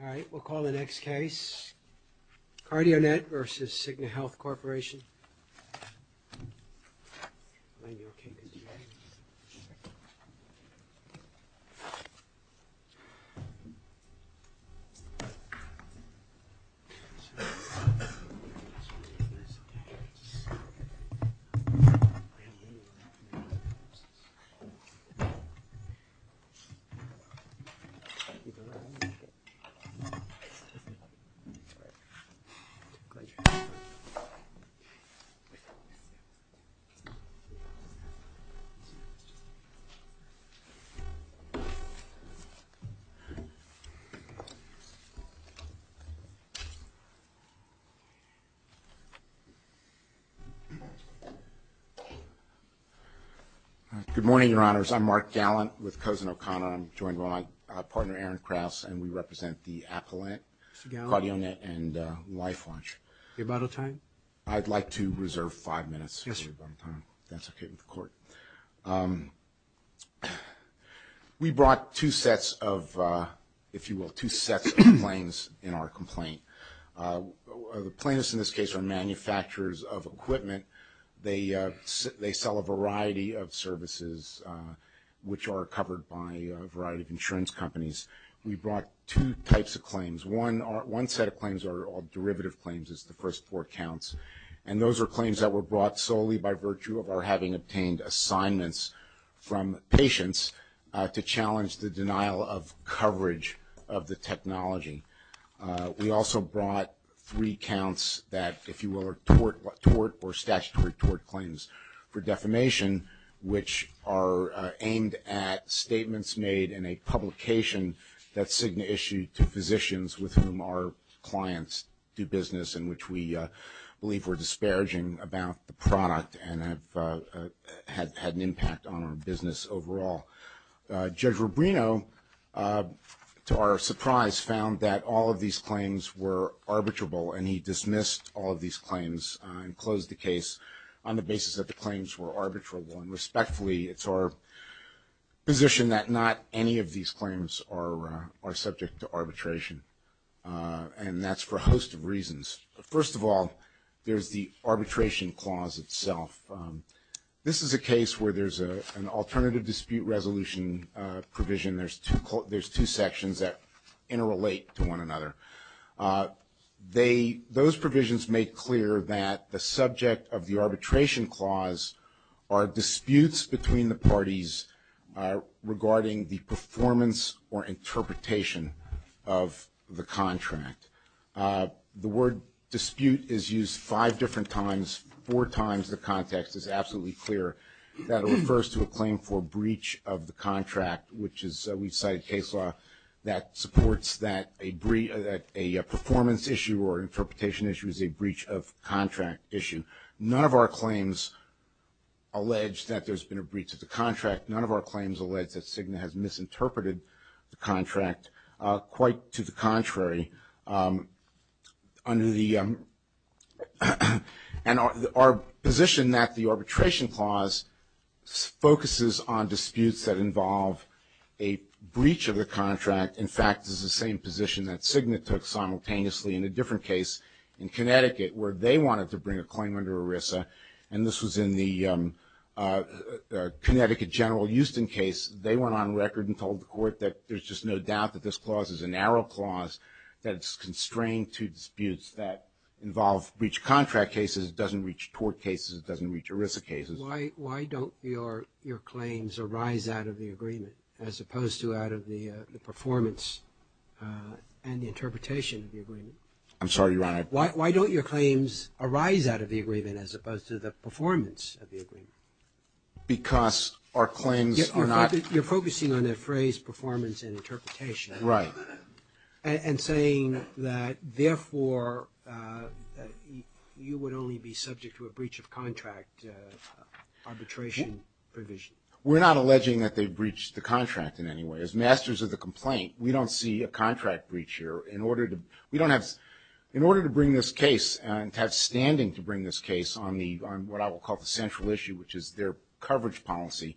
Alright, we'll call the next case, Cardionet vs. Cigna Health Corporation. Good morning, Your Honors, I'm Mark Gallant with Cousin O'Connor, I'm joined by my partner Aaron Krause, and we represent the Appellant, Cardionet, and Life Launch. We brought two sets of, if you will, two sets of claims in our complaint. The plaintiffs in this case are manufacturers of equipment, they sell a variety of services which are covered by a variety of insurance companies. We brought two types of claims. One set of claims are all derivative claims, it's the first four counts, and those are claims that were brought solely by virtue of our having obtained assignments from patients to challenge the denial of coverage of the technology. We also brought three counts that, if you will, are tort or statutory tort claims for at statements made in a publication that Cigna issued to physicians with whom our clients do business in which we believe we're disparaging about the product and have had an impact on our business overall. Judge Rubino, to our surprise, found that all of these claims were arbitrable and he dismissed all of these claims and closed the case on the basis that the claims were arbitrable. And respectfully, it's our position that not any of these claims are subject to arbitration. And that's for a host of reasons. First of all, there's the arbitration clause itself. This is a case where there's an alternative dispute resolution provision. There's two sections that interrelate to one another. Those provisions make clear that the subject of the arbitration clause are disputes between the parties regarding the performance or interpretation of the contract. The word dispute is used five different times, four times the context. It's absolutely clear that it refers to a claim for breach of the contract, which is we cite case law that supports that a performance issue or interpretation issue is a breach of contract issue. None of our claims allege that there's been a breach of the contract. None of our claims allege that Cigna has misinterpreted the contract. Quite to the contrary, under the and our position that the arbitration clause focuses on disputes that involve a breach of the contract, in fact, is the same position that Cigna took simultaneously in a different case in Connecticut where they wanted to bring a claim under ERISA. And this was in the Connecticut General Houston case. They went on record and told the court that there's just no doubt that this clause is a narrow clause that's constrained to disputes that involve breach of contract cases, doesn't reach tort cases, doesn't reach ERISA cases. Why don't your claims arise out of the agreement as opposed to out of the performance and the interpretation of the agreement? I'm sorry, Your Honor. Why don't your claims arise out of the agreement as opposed to the performance of the agreement? Because our claims are not... Right. And saying that, therefore, you would only be subject to a breach of contract arbitration provision. We're not alleging that they breached the contract in any way. As masters of the complaint, we don't see a contract breach here. In order to bring this case and to have standing to bring this case on what I will call the central issue, which is their coverage policy,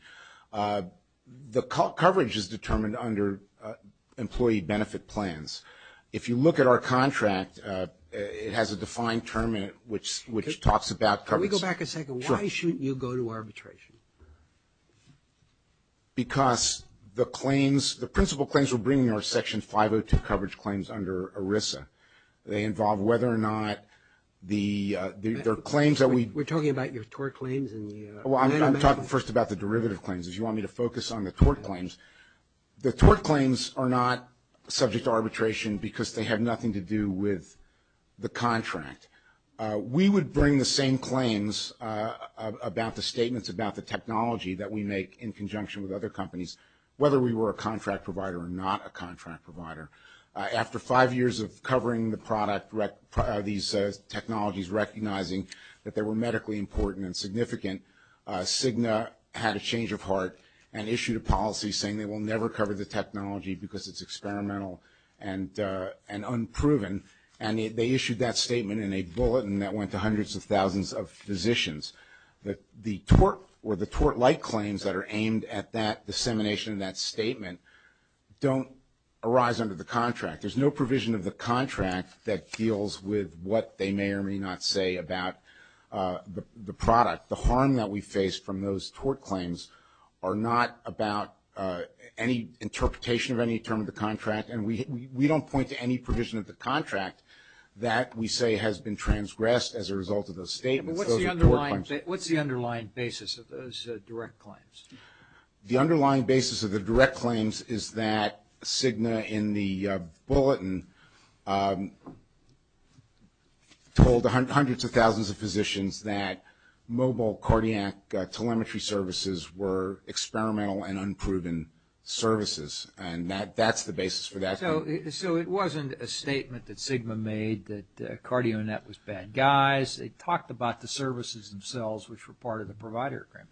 the coverage is determined under employee benefit plans. If you look at our contract, it has a defined term in it which talks about coverage. Can we go back a second? Sure. Why shouldn't you go to arbitration? Because the claims, the principal claims we're bringing are Section 502 coverage claims under ERISA. They involve whether or not the claims that we... We're talking about your tort claims and the... Well, I'm talking first about the derivative claims. If you want me to focus on the tort claims. The tort claims are not subject to arbitration because they have nothing to do with the contract. We would bring the same claims about the statements about the technology that we make in conjunction with other companies, whether we were a contract provider or not a contract provider. After five years of covering the product, these technologies, recognizing that they were medically important and significant, Cigna had a change of heart and issued a policy saying they will never cover the technology because it's experimental and unproven. And they issued that statement in a bulletin that went to hundreds of thousands of physicians. The tort or the tort-like claims that are aimed at that dissemination of that statement don't arise under the contract. There's no provision of the contract that deals with what they may or may not say about the product. The harm that we face from those tort claims are not about any interpretation of any term of the contract. And we don't point to any provision of the contract that we say has been transgressed as a result of those statements. What's the underlying basis of those direct claims? The underlying basis of the direct claims is that Cigna in the bulletin told hundreds of thousands of physicians that mobile cardiac telemetry services were experimental and unproven services. And that's the basis for that claim. So it wasn't a statement that Cigna made that CardioNet was bad guys. They talked about the services themselves, which were part of the provider agreement.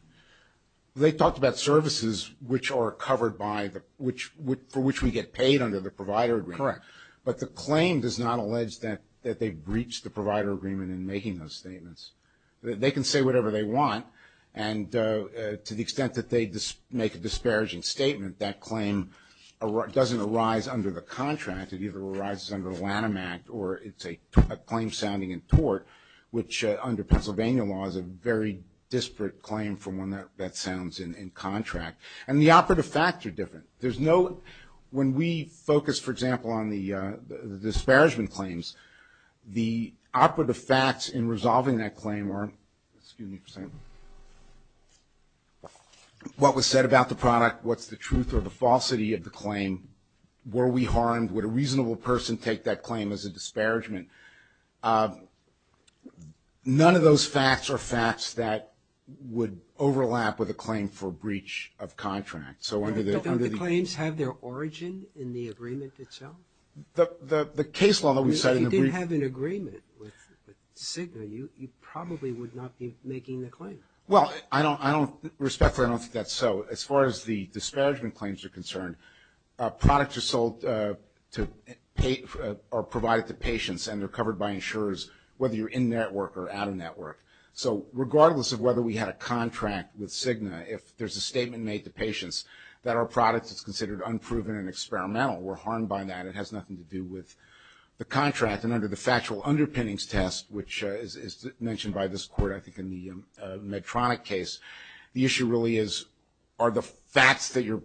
They talked about services which are covered by the, for which we get paid under the provider agreement. Correct. But the claim does not allege that they breached the provider agreement in making those statements. They can say whatever they want. And to the extent that they make a disparaging statement, that claim doesn't arise under the contract. It either arises under the Lanham Act or it's a claim sounding in tort, which under Pennsylvania law is a very disparate claim from one that sounds in contract. And the operative facts are different. There's no, when we focus, for example, on the disparagement claims, the operative facts in resolving that claim are, excuse me for saying, what was said about the product, what's the truth or the falsity of the claim, were we harmed, would a reasonable person take that claim as a disparagement. None of those facts are facts that would overlap with a claim for breach of contract. So under the... Don't the claims have their origin in the agreement itself? The case law that we cited... If you didn't have an agreement with Cigna, you probably would not be making the claim. Well, I don't, respectfully, I don't think that's so. As far as the disparagement claims are concerned, products are sold to, or provided to patients and they're covered by insurers, whether you're in network or out of network. So regardless of whether we had a contract with Cigna, if there's a statement made to that our product is considered unproven and experimental, we're harmed by that. It has nothing to do with the contract. And under the factual underpinnings test, which is mentioned by this court, I think, in the Medtronic case, the issue really is, are the facts that you're...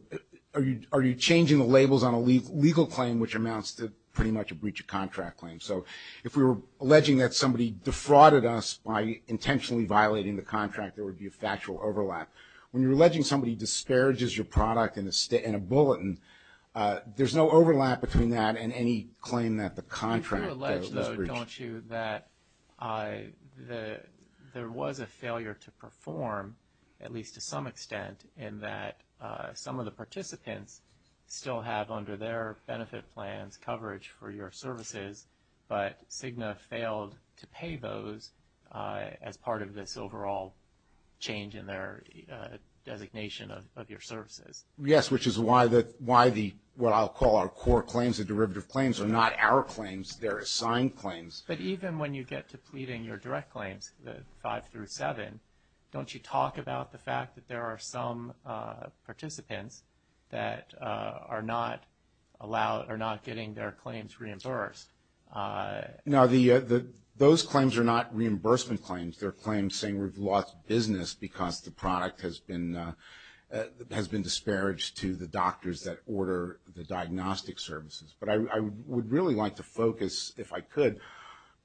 Are you changing the labels on a legal claim, which amounts to pretty much a breach of contract claim? So if we were alleging that somebody defrauded us by intentionally violating the contract, there would be a factual overlap. When you're alleging somebody disparages your product in a bulletin, there's no overlap between that and any claim that the contract is breached. You do allege, though, don't you, that there was a failure to perform, at least to some extent, in that some of the participants still have under their benefit plans coverage for your services, but Cigna failed to pay those as part of this overall change in their designation of your services? Yes, which is why the, what I'll call our core claims, the derivative claims, are not our claims. They're assigned claims. But even when you get to pleading your direct claims, the five through seven, don't you talk about the fact that there are some participants that are not allowed, are not getting their insurance? No, those claims are not reimbursement claims. They're claims saying we've lost business because the product has been disparaged to the doctors that order the diagnostic services. But I would really like to focus, if I could,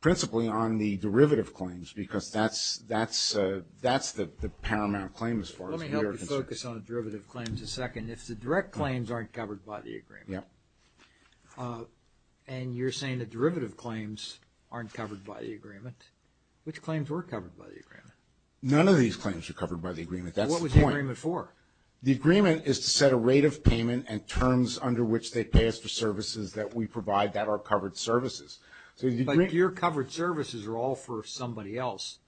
principally on the derivative claims, because that's the paramount claim as far as we are concerned. Let me help you focus on the derivative claims a second. If the direct claims aren't covered by the agreement, and you're saying the derivative claims aren't covered by the agreement, which claims were covered by the agreement? None of these claims were covered by the agreement. That's the point. What was the agreement for? The agreement is to set a rate of payment and terms under which they pay us for services that we provide that are covered services. Your covered services are all for somebody else,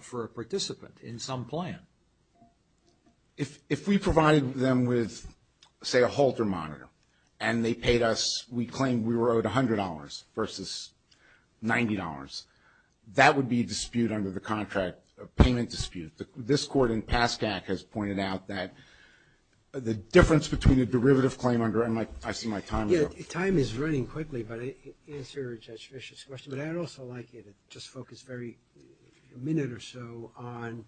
for a participant in some plan. If we provided them with, say, a halter monitor, and they paid us, we claim we were owed $100 versus $90, that would be a dispute under the contract, a payment dispute. This court in PASCAC has pointed out that the difference between a derivative claim under, and I see my time is up. Time is running quickly, but to answer Judge Fischer's question, but I would also like you to just focus a minute or so on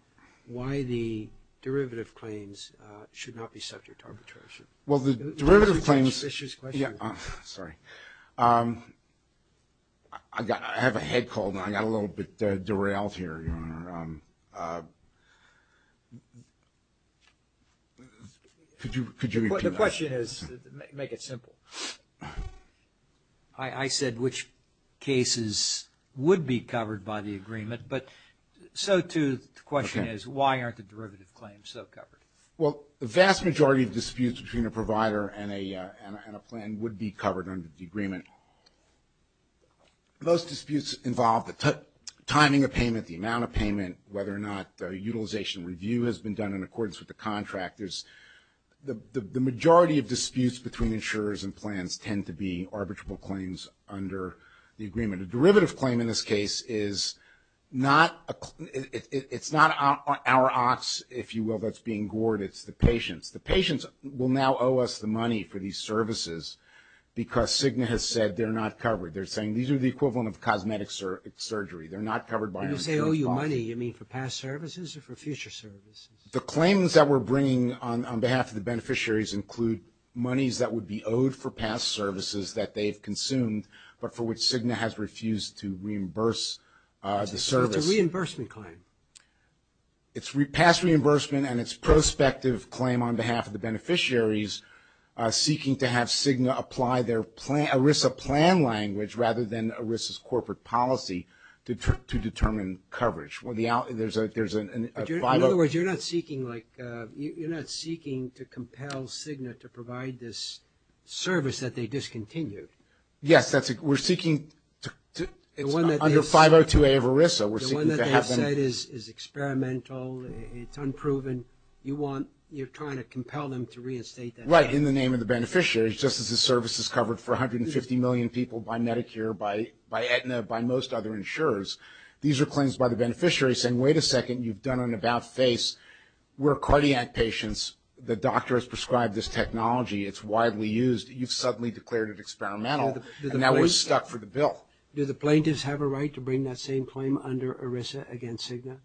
why the derivative claims should not be subject to arbitration. Well, the derivative claims. Judge Fischer's question. Yeah. Sorry. I have a head cold, and I got a little bit derailed here, Your Honor. Could you repeat that? The question is, make it simple. I said which cases would be covered by the agreement, but so, too, the question is why aren't the derivative claims so covered? Well, the vast majority of disputes between a provider and a plan would be covered under the agreement. Those disputes involve the timing of payment, the amount of payment, whether or not utilization review has been done in accordance with the contract. The majority of disputes between insurers and plans tend to be arbitrable claims under the agreement. A derivative claim, in this case, is not our ox, if you will, that's being gored. It's the patient's. The patient's will now owe us the money for these services because Cigna has said they're not covered. They're saying these are the equivalent of cosmetic surgery. They're not covered by our insurance policy. When you say owe you money, you mean for past services or for future services? The claims that we're bringing on behalf of the beneficiaries include monies that would be owed for past services that they've consumed, but for which Cigna has refused to reimburse the service. So it's a reimbursement claim? It's past reimbursement and it's prospective claim on behalf of the beneficiaries seeking to have Cigna apply their ERISA plan language rather than ERISA's corporate policy to determine coverage. In other words, you're not seeking to compel Cigna to provide this service that they discontinued? Yes. We're seeking to, under 502A of ERISA, we're seeking to have them. The one that they have said is experimental, it's unproven. You want, you're trying to compel them to reinstate that plan? Right. In the name of the beneficiaries, just as the service is covered for 150 million people by Medicare, by Aetna, by most other insurers, these are claims by the beneficiary saying, wait a second, you've done an about-face, we're cardiac patients, the doctor has prescribed this technology, it's widely used, you've suddenly declared it experimental, and now we're stuck for the bill. Do the plaintiffs have a right to bring that same claim under ERISA against Cigna?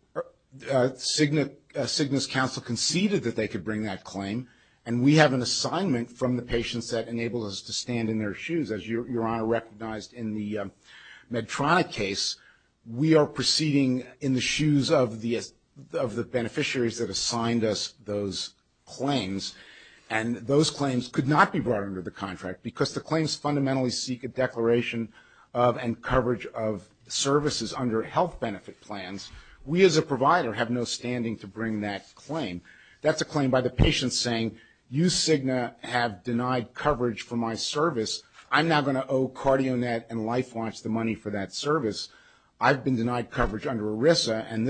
Cigna's counsel conceded that they could bring that claim, and we have an assignment from the patients that enables us to stand in their shoes. As Your Honor recognized in the Medtronic case, we are proceeding in the shoes of the beneficiaries that assigned us those claims. And those claims could not be brought under the contract, because the claims fundamentally seek a declaration of and coverage of services under health benefit plans. We as a provider have no standing to bring that claim. That's a claim by the patient saying, you, Cigna, have denied coverage for my service. I'm now going to owe CardioNet and LifeWatch the money for that service. I've been denied coverage under ERISA, and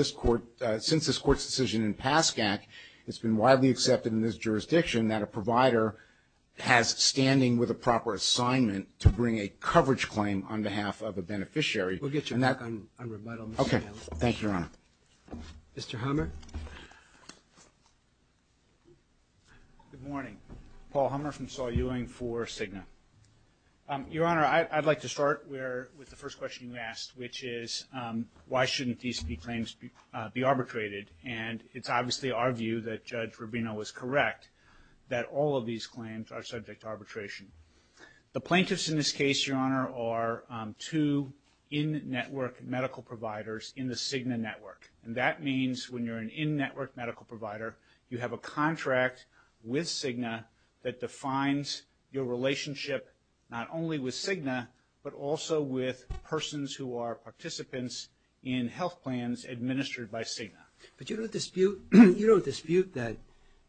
since this Court's decision in PASCAC, it's been widely accepted in this jurisdiction that a provider has standing with a proper assignment to bring a coverage claim on behalf of a beneficiary. We'll get you back on rebuttal, Mr. Hale. Okay. Thank you, Your Honor. Mr. Hammer? Good morning. Paul Hammer from Saul Ewing for Cigna. Your Honor, I'd like to start with the first question you asked, which is, why shouldn't these claims be arbitrated? And it's obviously our view that Judge Rubino was correct, that all of these claims are subject to arbitration. The plaintiffs in this case, Your Honor, are two in-network medical providers in the Cigna network. And that means when you're an in-network medical provider, you have a contract with Cigna that defines your relationship not only with Cigna, but also with persons who are participants in health plans administered by Cigna. But you don't dispute that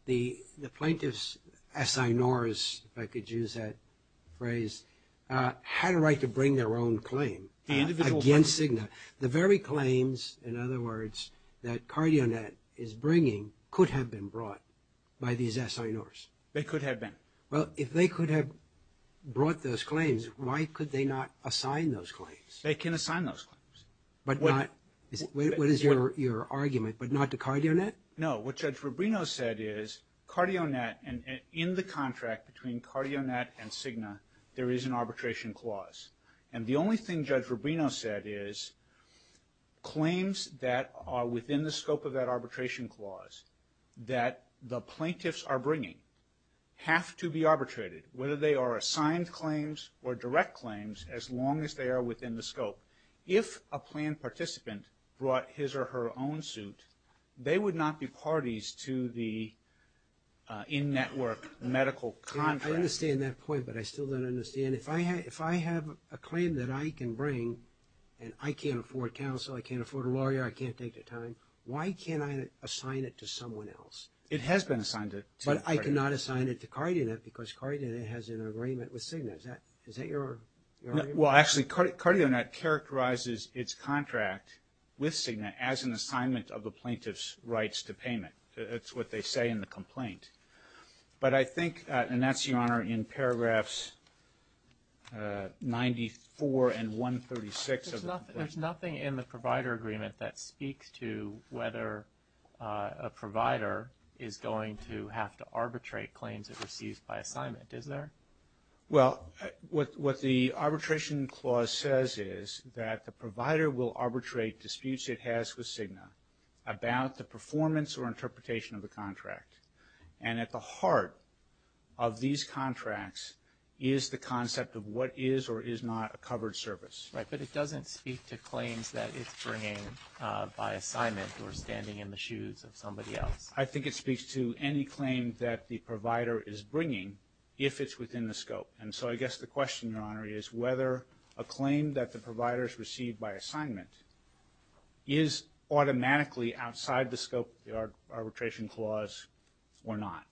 the plaintiffs, as I nor as I could use that phrase, had a right to bring their own claim against Cigna. The very claims, in other words, that CardioNet is bringing could have been brought by these SINRs. They could have been. Well, if they could have brought those claims, why could they not assign those claims? They can assign those claims. But not... What is your argument? But not to CardioNet? No. What Judge Rubino said is, CardioNet and in the contract between CardioNet and Cigna, there is an arbitration clause. And the only thing Judge Rubino said is, claims that are within the scope of that arbitration clause that the plaintiffs are bringing have to be arbitrated, whether they are assigned claims or direct claims, as long as they are within the scope. If a plan participant brought his or her own suit, they would not be parties to the in-network medical contract. I understand that point, but I still don't understand. And if I have a claim that I can bring, and I can't afford counsel, I can't afford a lawyer, I can't take the time, why can't I assign it to someone else? It has been assigned to CardioNet. But I cannot assign it to CardioNet because CardioNet has an agreement with Cigna. Is that your argument? Well, actually, CardioNet characterizes its contract with Cigna as an assignment of the plaintiff's rights to payment. That's what they say in the complaint. But I think, and that's, Your Honor, in paragraphs 94 and 136 of the complaint. There's nothing in the provider agreement that speaks to whether a provider is going to have to arbitrate claims it receives by assignment, is there? Well, what the arbitration clause says is that the provider will arbitrate disputes it has with Cigna about the performance or interpretation of the contract. And at the heart of these contracts is the concept of what is or is not a covered service. Right. But it doesn't speak to claims that it's bringing by assignment or standing in the shoes of somebody else. I think it speaks to any claim that the provider is bringing if it's within the scope. And so I guess the question, Your Honor, is whether a claim that the provider has received by assignment is automatically outside the scope of the arbitration clause or not.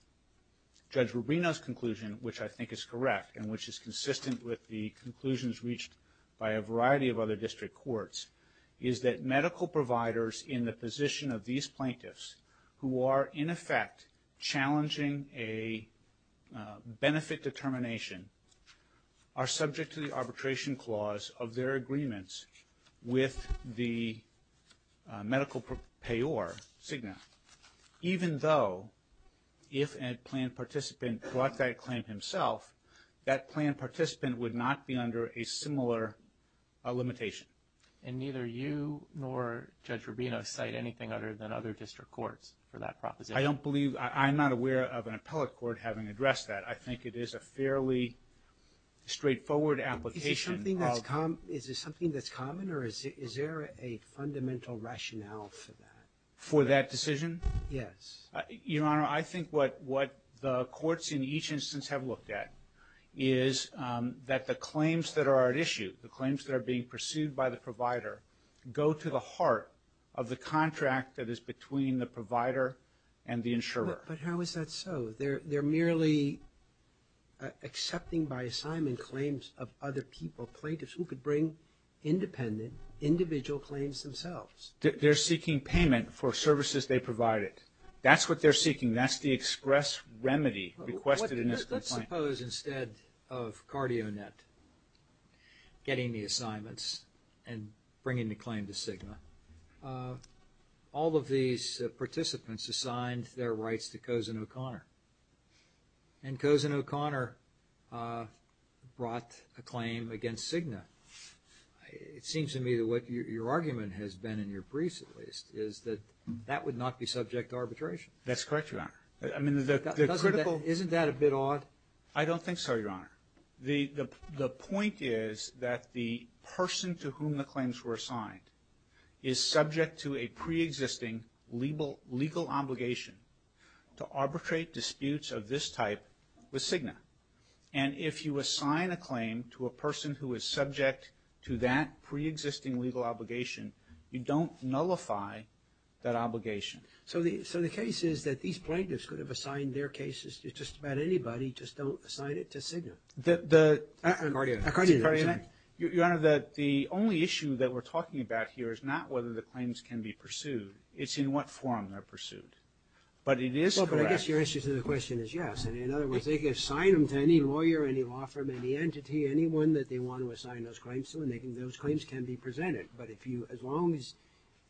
Judge Rubino's conclusion, which I think is correct and which is consistent with the conclusions reached by a variety of other district courts, is that medical providers in the position of these plaintiffs who are in effect challenging a benefit determination are subject to the arbitration clause of their agreements with the medical payor, Cigna, even though if a planned participant brought that claim himself, that planned participant would not be under a similar limitation. And neither you nor Judge Rubino cite anything other than other district courts for that proposition. I don't believe, I'm not aware of an appellate court having addressed that. I think it is a fairly straightforward application of Is there something that's common or is there a fundamental rationale for that? For that decision? Yes. Your Honor, I think what the courts in each instance have looked at is that the claims that are at issue, the claims that are being pursued by the provider, go to the heart of the contract that is between the provider and the insurer. But how is that so? They're merely accepting by assignment claims of other people, plaintiffs who could bring independent, individual claims themselves. They're seeking payment for services they provided. That's what they're seeking. That's the express remedy requested in this complaint. Let's suppose instead of CardioNet getting the assignments and bringing the claim to Cigna, all of these participants assigned their rights to Cozen O'Connor. And Cozen O'Connor brought a claim against Cigna. It seems to me that what your argument has been in your briefs at least is that that would not be subject to arbitration. That's correct, Your Honor. I mean, the critical Isn't that a bit odd? I don't think so, Your Honor. The point is that the person to whom the claims were assigned is subject to a preexisting legal obligation to arbitrate disputes of this type with Cigna. And if you assign a claim to a person who is subject to that preexisting legal obligation, you don't nullify that obligation. So the case is that these plaintiffs could have assigned their cases to just about anybody, just don't assign it to Cigna. CardioNet? Your Honor, the only issue that we're talking about here is not whether the claims can be pursued. It's in what form they're pursued. But it is correct. But I guess your answer to the question is yes. And in other words, they can assign them to any lawyer, any law firm, any entity, anyone that they want to assign those claims to, and those claims can be presented. But if you, as long as,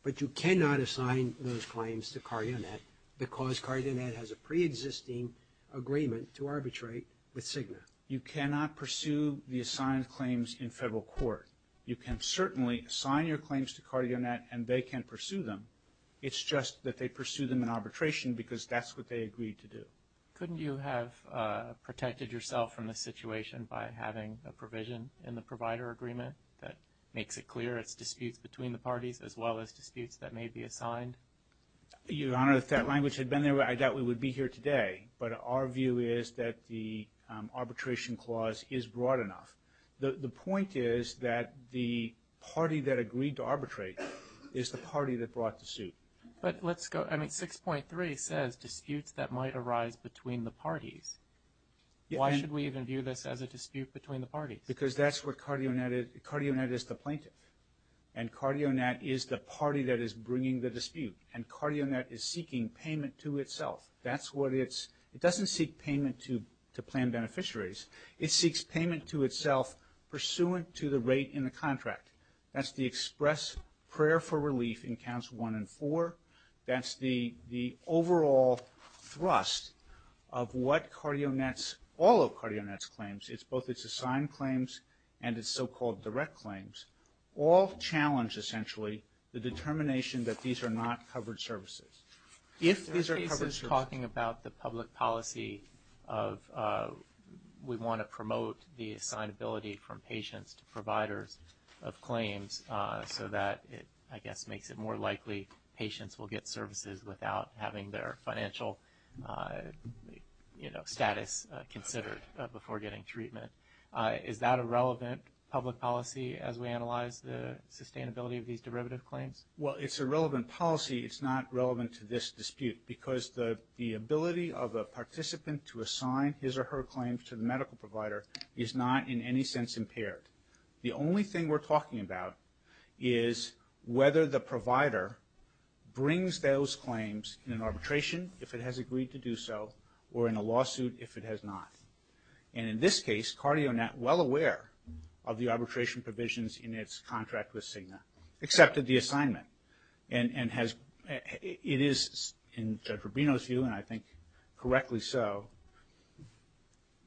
but you cannot assign those claims to CardioNet because CardioNet has a preexisting agreement to arbitrate with Cigna. You cannot pursue the assigned claims in federal court. You can certainly assign your claims to CardioNet and they can pursue them. It's just that they pursue them in arbitration because that's what they agreed to do. Couldn't you have protected yourself from this situation by having a provision in the provider agreement that makes it clear it's disputes between the parties as well as disputes that may be assigned? Your Honor, if that language had been there, I doubt we would be here today. But our view is that the arbitration clause is broad enough. The point is that the party that agreed to arbitrate is the party that brought the suit. But let's go, I mean, 6.3 says disputes that might arise between the parties. Why should we even view this as a dispute between the parties? Because that's what CardioNet, CardioNet is the plaintiff. And CardioNet is the party that is bringing the dispute. And CardioNet is seeking payment to itself. That's what it's, it doesn't seek payment to plan beneficiaries. It seeks payment to itself pursuant to the rate in the contract. That's the express prayer for relief in counts one and four. That's the overall thrust of what CardioNet's, all of CardioNet's claims. It's both its assigned claims and its so-called direct claims. All challenge, essentially, the determination that these are not covered services. If these are covered services. Talking about the public policy of we want to promote the assignability from patients to providers of claims so that it, I guess, makes it more likely patients will get services without having their financial, you know, status considered before getting treatment. Is that a relevant public policy as we analyze the sustainability of these derivative claims? Well, it's a relevant policy. It's not relevant to this dispute. Because the, the ability of a participant to assign his or her claims to the medical provider is not in any sense impaired. The only thing we're talking about is whether the provider brings those claims in an arbitration, if it has agreed to do so, or in a lawsuit if it has not. And in this case, CardioNet, well aware of the arbitration provisions in its contract with Cigna, accepted the assignment. And, and has, it is, in Judge Rubino's view, and I think correctly so,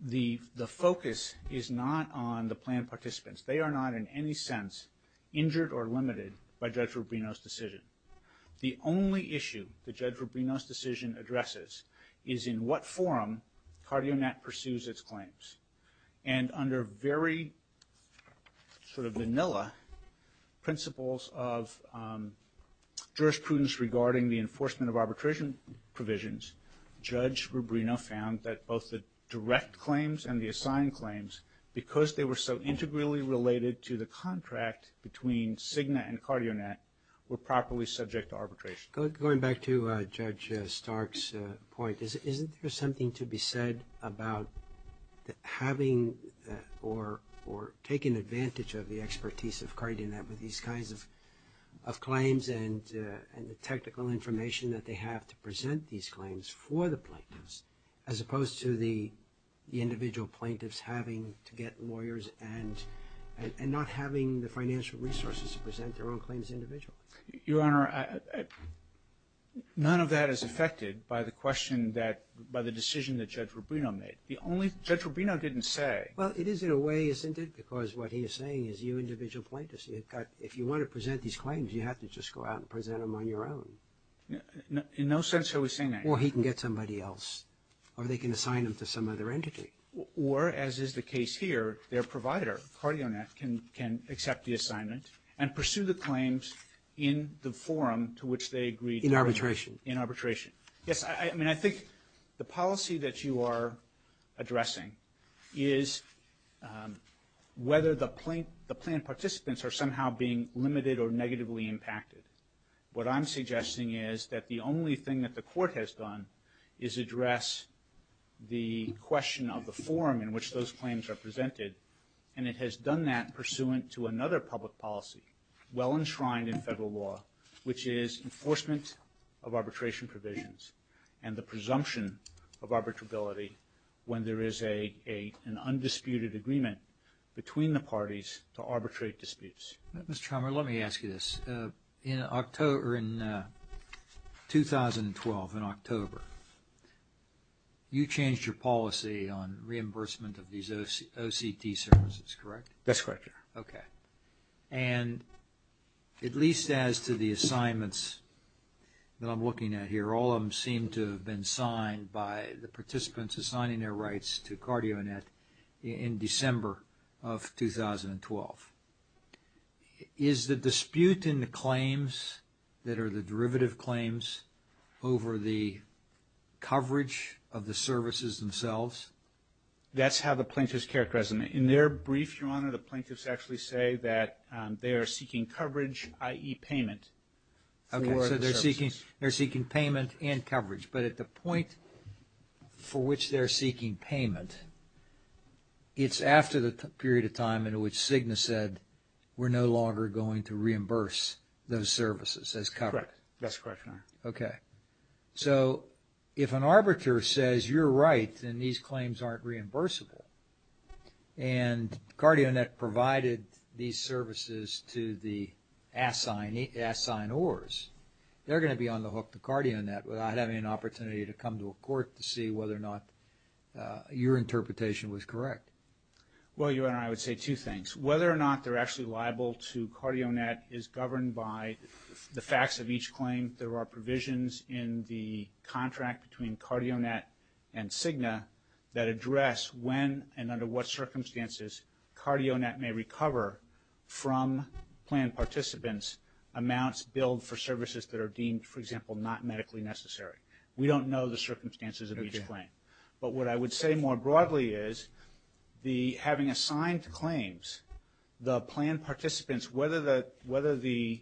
the, the focus is not on the planned participants. They are not in any sense injured or limited by Judge Rubino's decision. The only issue that Judge Rubino's decision addresses is in what forum CardioNet pursues its claims. And under very sort of vanilla principles of jurisprudence regarding the enforcement of arbitration provisions, Judge Rubino found that both the direct claims and the assigned claims, because they were so integrally related to the contract between Cigna and CardioNet, were properly subject to arbitration. Going back to Judge Stark's point, is, isn't there something to be said about having or, or taking advantage of the expertise of CardioNet with these kinds of, of claims and, and the technical information that they have to present these claims for the plaintiffs, as opposed to the, the individual plaintiffs having to get lawyers and, and not having the financial resources to present their own claims individually? Your Honor, I, I, none of that is affected by the question that, by the decision that Judge Rubino made. The only, Judge Rubino didn't say. Well, it is in a way, isn't it? Because what he is saying is you individual plaintiffs, you've got, if you want to present these claims, you have to just go out and present them on your own. In no sense are we saying that. Or he can get somebody else. Or they can assign them to some other entity. And pursue the claims in the forum to which they agreed. In arbitration. Yes, I, I mean, I think the policy that you are addressing is whether the plaint, the plaintiff participants are somehow being limited or negatively impacted. What I'm suggesting is that the only thing that the court has done is address the question of the forum in which those claims are presented. And it has done that pursuant to another public policy. Well enshrined in federal law, which is enforcement of arbitration provisions. And the presumption of arbitrability when there is a, a, an undisputed agreement between the parties to arbitrate disputes. Mr. Chalmer, let me ask you this. In October, in 2012, in October, you changed your policy on reimbursement of these O, OCT services, correct? That's correct, yeah. Okay. And at least as to the assignments that I'm looking at here, all of them seem to have been signed by the participants assigning their rights to CardioNet in December of 2012. Is the dispute in the claims that are the derivative claims over the coverage of the services themselves? That's how the plaintiffs characterize them. In their brief, your honor, the plaintiffs actually say that they are seeking coverage, i.e. payment. Okay, so they're seeking, they're seeking payment and coverage. But at the point for which they're seeking payment, it's after the period of time in which Cigna said, we're no longer going to reimburse those services as covered. Correct, that's correct, your honor. So if an arbiter says, you're right, then these claims aren't reimbursable. And CardioNet provided these services to the assignors. They're going to be on the hook to CardioNet without having an opportunity to come to a court to see whether or not your interpretation was correct. Well, your honor, I would say two things. Whether or not they're actually liable to CardioNet is governed by the facts of each claim. There are provisions in the contract between CardioNet and Cigna that address when and under what circumstances CardioNet may recover from planned participants amounts billed for services that are deemed, for example, not medically necessary. We don't know the circumstances of each claim. But what I would say more broadly is, having assigned claims, the planned participants, whether the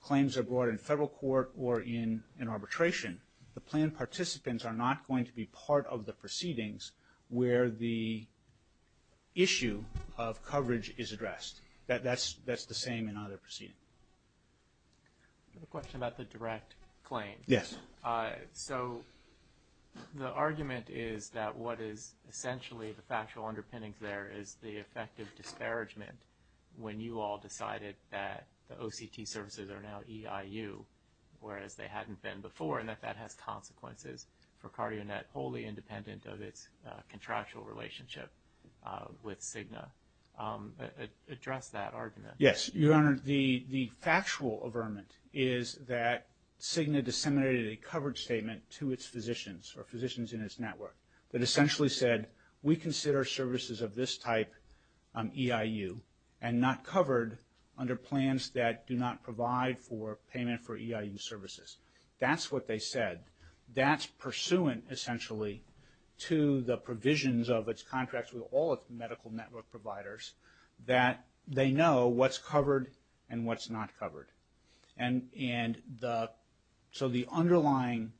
claims are brought in federal court or in arbitration, the planned participants are not going to be part of the proceedings where the issue of coverage is addressed. That's the same in either proceeding. I have a question about the direct claim. Yes. So the argument is that what is essentially the factual underpinnings there is the effect of disparagement when you all decided that the OCT services are now EIU, whereas they hadn't been before, and that that has consequences for CardioNet, wholly independent of its contractual relationship with Cigna. Address that argument. Yes, your honor, the factual averment is that Cigna disseminated a coverage statement to its physicians, or physicians in its network, that essentially said, we consider services of this type EIU and not covered under plans that do not provide for payment for EIU services. That's what they said. That's pursuant, essentially, to the provisions of its contracts with all its medical network providers, that they know what's covered and what's not covered. And so the underlying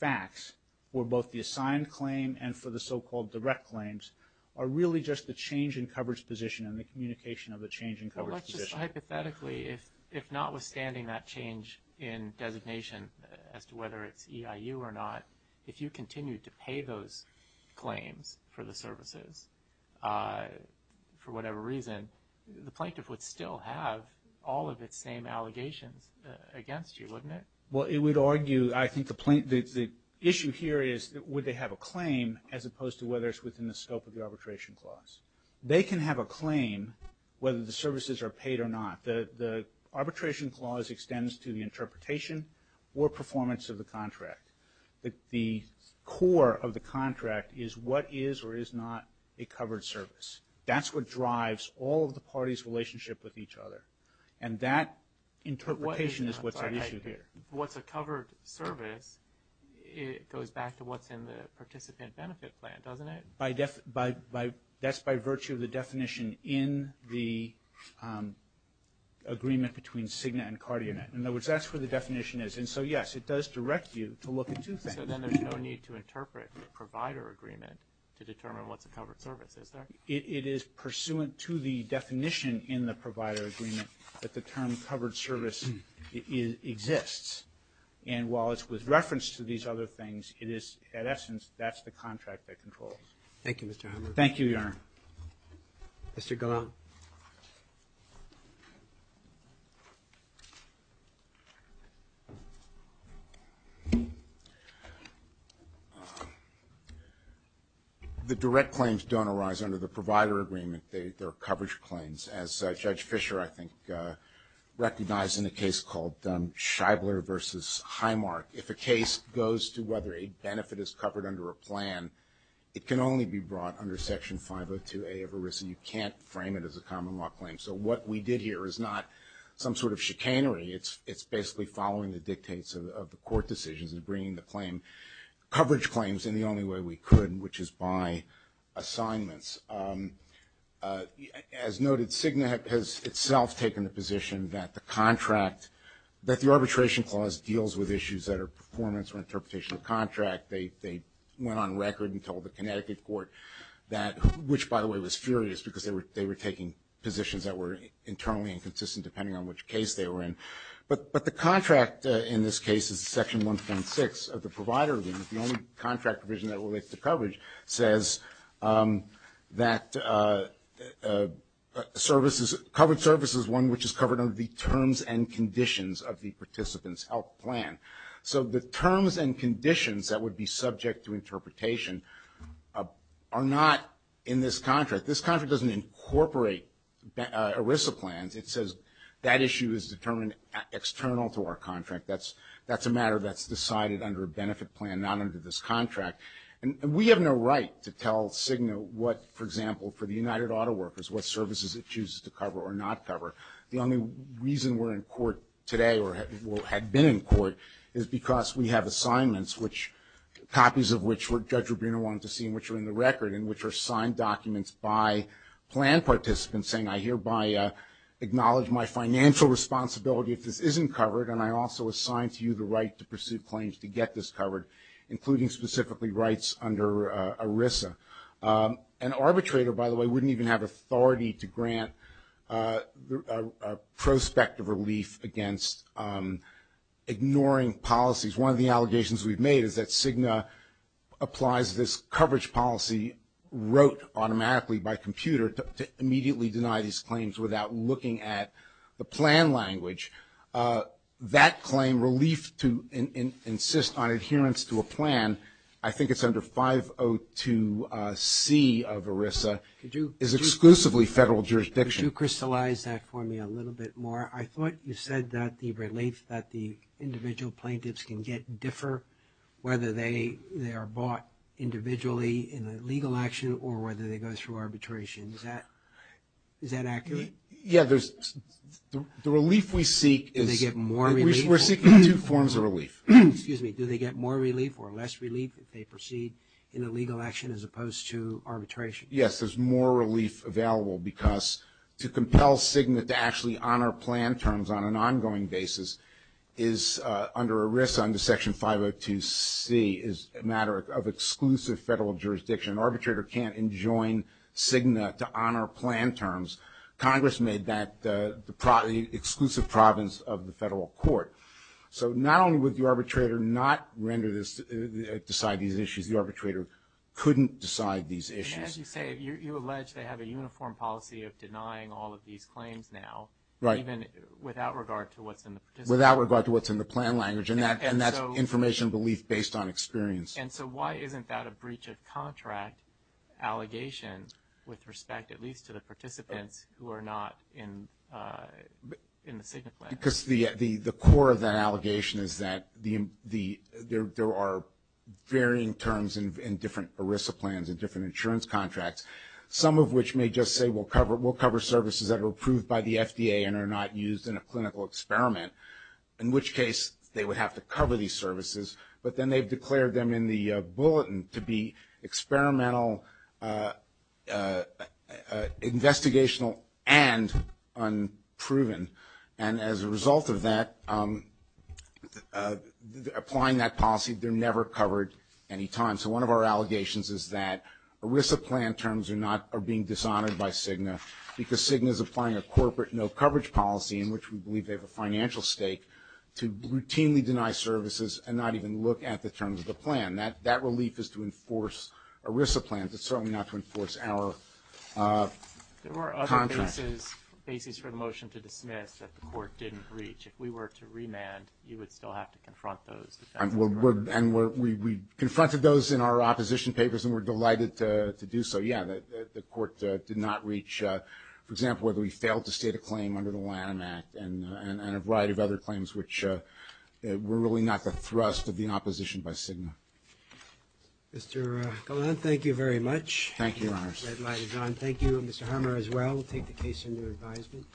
facts for both the assigned claim and for the so-called direct claims are really just the change in coverage position and the communication of the change in coverage position. Hypothetically, if notwithstanding that change in designation as to whether it's EIU or not, if you continue to pay those claims for the services, for whatever reason, the plaintiff would still have all of its same allegations against you, wouldn't it? Well, it would argue, I think the issue here is, would they have a claim as opposed to whether it's within the scope of the arbitration clause? They can have a claim whether the services are paid or not. The arbitration clause extends to the interpretation or performance of the contract. The core of the contract is what is or is not a covered service. That's what drives all of the parties' relationship with each other. And that interpretation is what's at issue here. What's a covered service, it goes back to what's in the participant benefit plan, doesn't it? That's by virtue of the definition in the agreement between Cigna and CardioNet. In other words, that's where the definition is. And so, yes, it does direct you to look at two things. So then there's no need to interpret the provider agreement to determine what's a covered service, is there? It is pursuant to the definition in the provider agreement that the term covered service exists. And while it's with reference to these other things, it is, in essence, that's the contract that controls. Thank you, Mr. Hammer. Thank you, Your Honor. Mr. Gallant. The direct claims don't arise under the provider agreement. They're coverage claims. As Judge Fischer, I think, recognized in a case called Scheibler v. Highmark. If a case goes to whether a benefit is covered under a plan, it can only be brought under Section 502A of ERISA. You can't frame it as a common law claim. So what we did here is not some sort of chicanery. It's basically following the dictates of the court decisions and bringing the coverage claims in the only way we could, which is by assignments. As noted, Cigna has itself taken the position that the arbitration clause deals with issues that are performance or interpretation of contract. They went on record and told the Connecticut court, which, by the way, was furious because they were taking positions that were internally inconsistent, depending on which case they were in. But the contract in this case is Section 1.6 of the provider agreement. The only contract provision that relates to coverage says that covered service is one which is covered under the terms and conditions of the participant's health plan. So the terms and conditions that would be subject to interpretation are not in this contract. This contract doesn't incorporate ERISA plans. That issue is determined external to our contract. That's a matter that's decided under a benefit plan, not under this contract. And we have no right to tell Cigna what, for example, for the United Auto Workers, what services it chooses to cover or not cover. The only reason we're in court today, or had been in court, is because we have assignments, copies of which Judge Rubino wanted to see, and which are in the record, and which are signed documents by plan participants saying I hereby acknowledge my financial responsibility if this isn't covered, and I also assign to you the right to pursue claims to get this covered, including specifically rights under ERISA. An arbitrator, by the way, wouldn't even have authority to grant prospective relief against ignoring policies. One of the allegations we've made is that Cigna applies this coverage policy, wrote automatically by computer to immediately deny these claims without looking at the plan language. That claim, relief to insist on adherence to a plan, I think it's under 502c of ERISA, is exclusively federal jurisdiction. Could you crystallize that for me a little bit more? I thought you said that the relief that the individual plaintiffs can get differ whether they are bought individually in a legal action or whether they go through arbitration, is that accurate? Yeah, the relief we seek is- Do they get more relief? We're seeking two forms of relief. Excuse me, do they get more relief or less relief if they proceed in a legal action as opposed to arbitration? Yes, there's more relief available because to compel Cigna to actually honor plan terms on an ongoing basis is under ERISA under section 502c, is a matter of exclusive federal jurisdiction. Arbitrator can't enjoin Cigna to honor plan terms. Congress made that the exclusive province of the federal court. So not only would the arbitrator not render this, decide these issues, the arbitrator couldn't decide these issues. As you say, you allege they have a uniform policy of denying all of these claims now, even without regard to what's in the participant plan. Without regard to what's in the plan language, and that's information belief based on experience. And so why isn't that a breach of contract allegation with respect, at least to the participants who are not in the Cigna plan? Because the core of that allegation is that there are varying terms in different ERISA plans and different insurance contracts, some of which may just say we'll cover services that are approved by the FDA and are not used in a clinical experiment. In which case, they would have to cover these services. But then they've declared them in the bulletin to be experimental, investigational, and unproven. And as a result of that, applying that policy, they're never covered any time. So one of our allegations is that ERISA plan terms are being dishonored by Cigna. Because Cigna's applying a corporate no coverage policy, in which we believe they have a financial stake, to routinely deny services and not even look at the terms of the plan. That relief is to enforce ERISA plans, it's certainly not to enforce our contract. There were other bases for the motion to dismiss that the court didn't reach. If we were to remand, you would still have to confront those. And we confronted those in our opposition papers and we're delighted to do so. Yeah, the court did not reach, for example, whether we failed to state a claim under the Lanham Act and a variety of other claims, which were really not the thrust of the opposition by Cigna. Mr. Golan, thank you very much. Thank you, Your Honors. Thank you, Mr. Harmer as well, we'll take the case into advisement.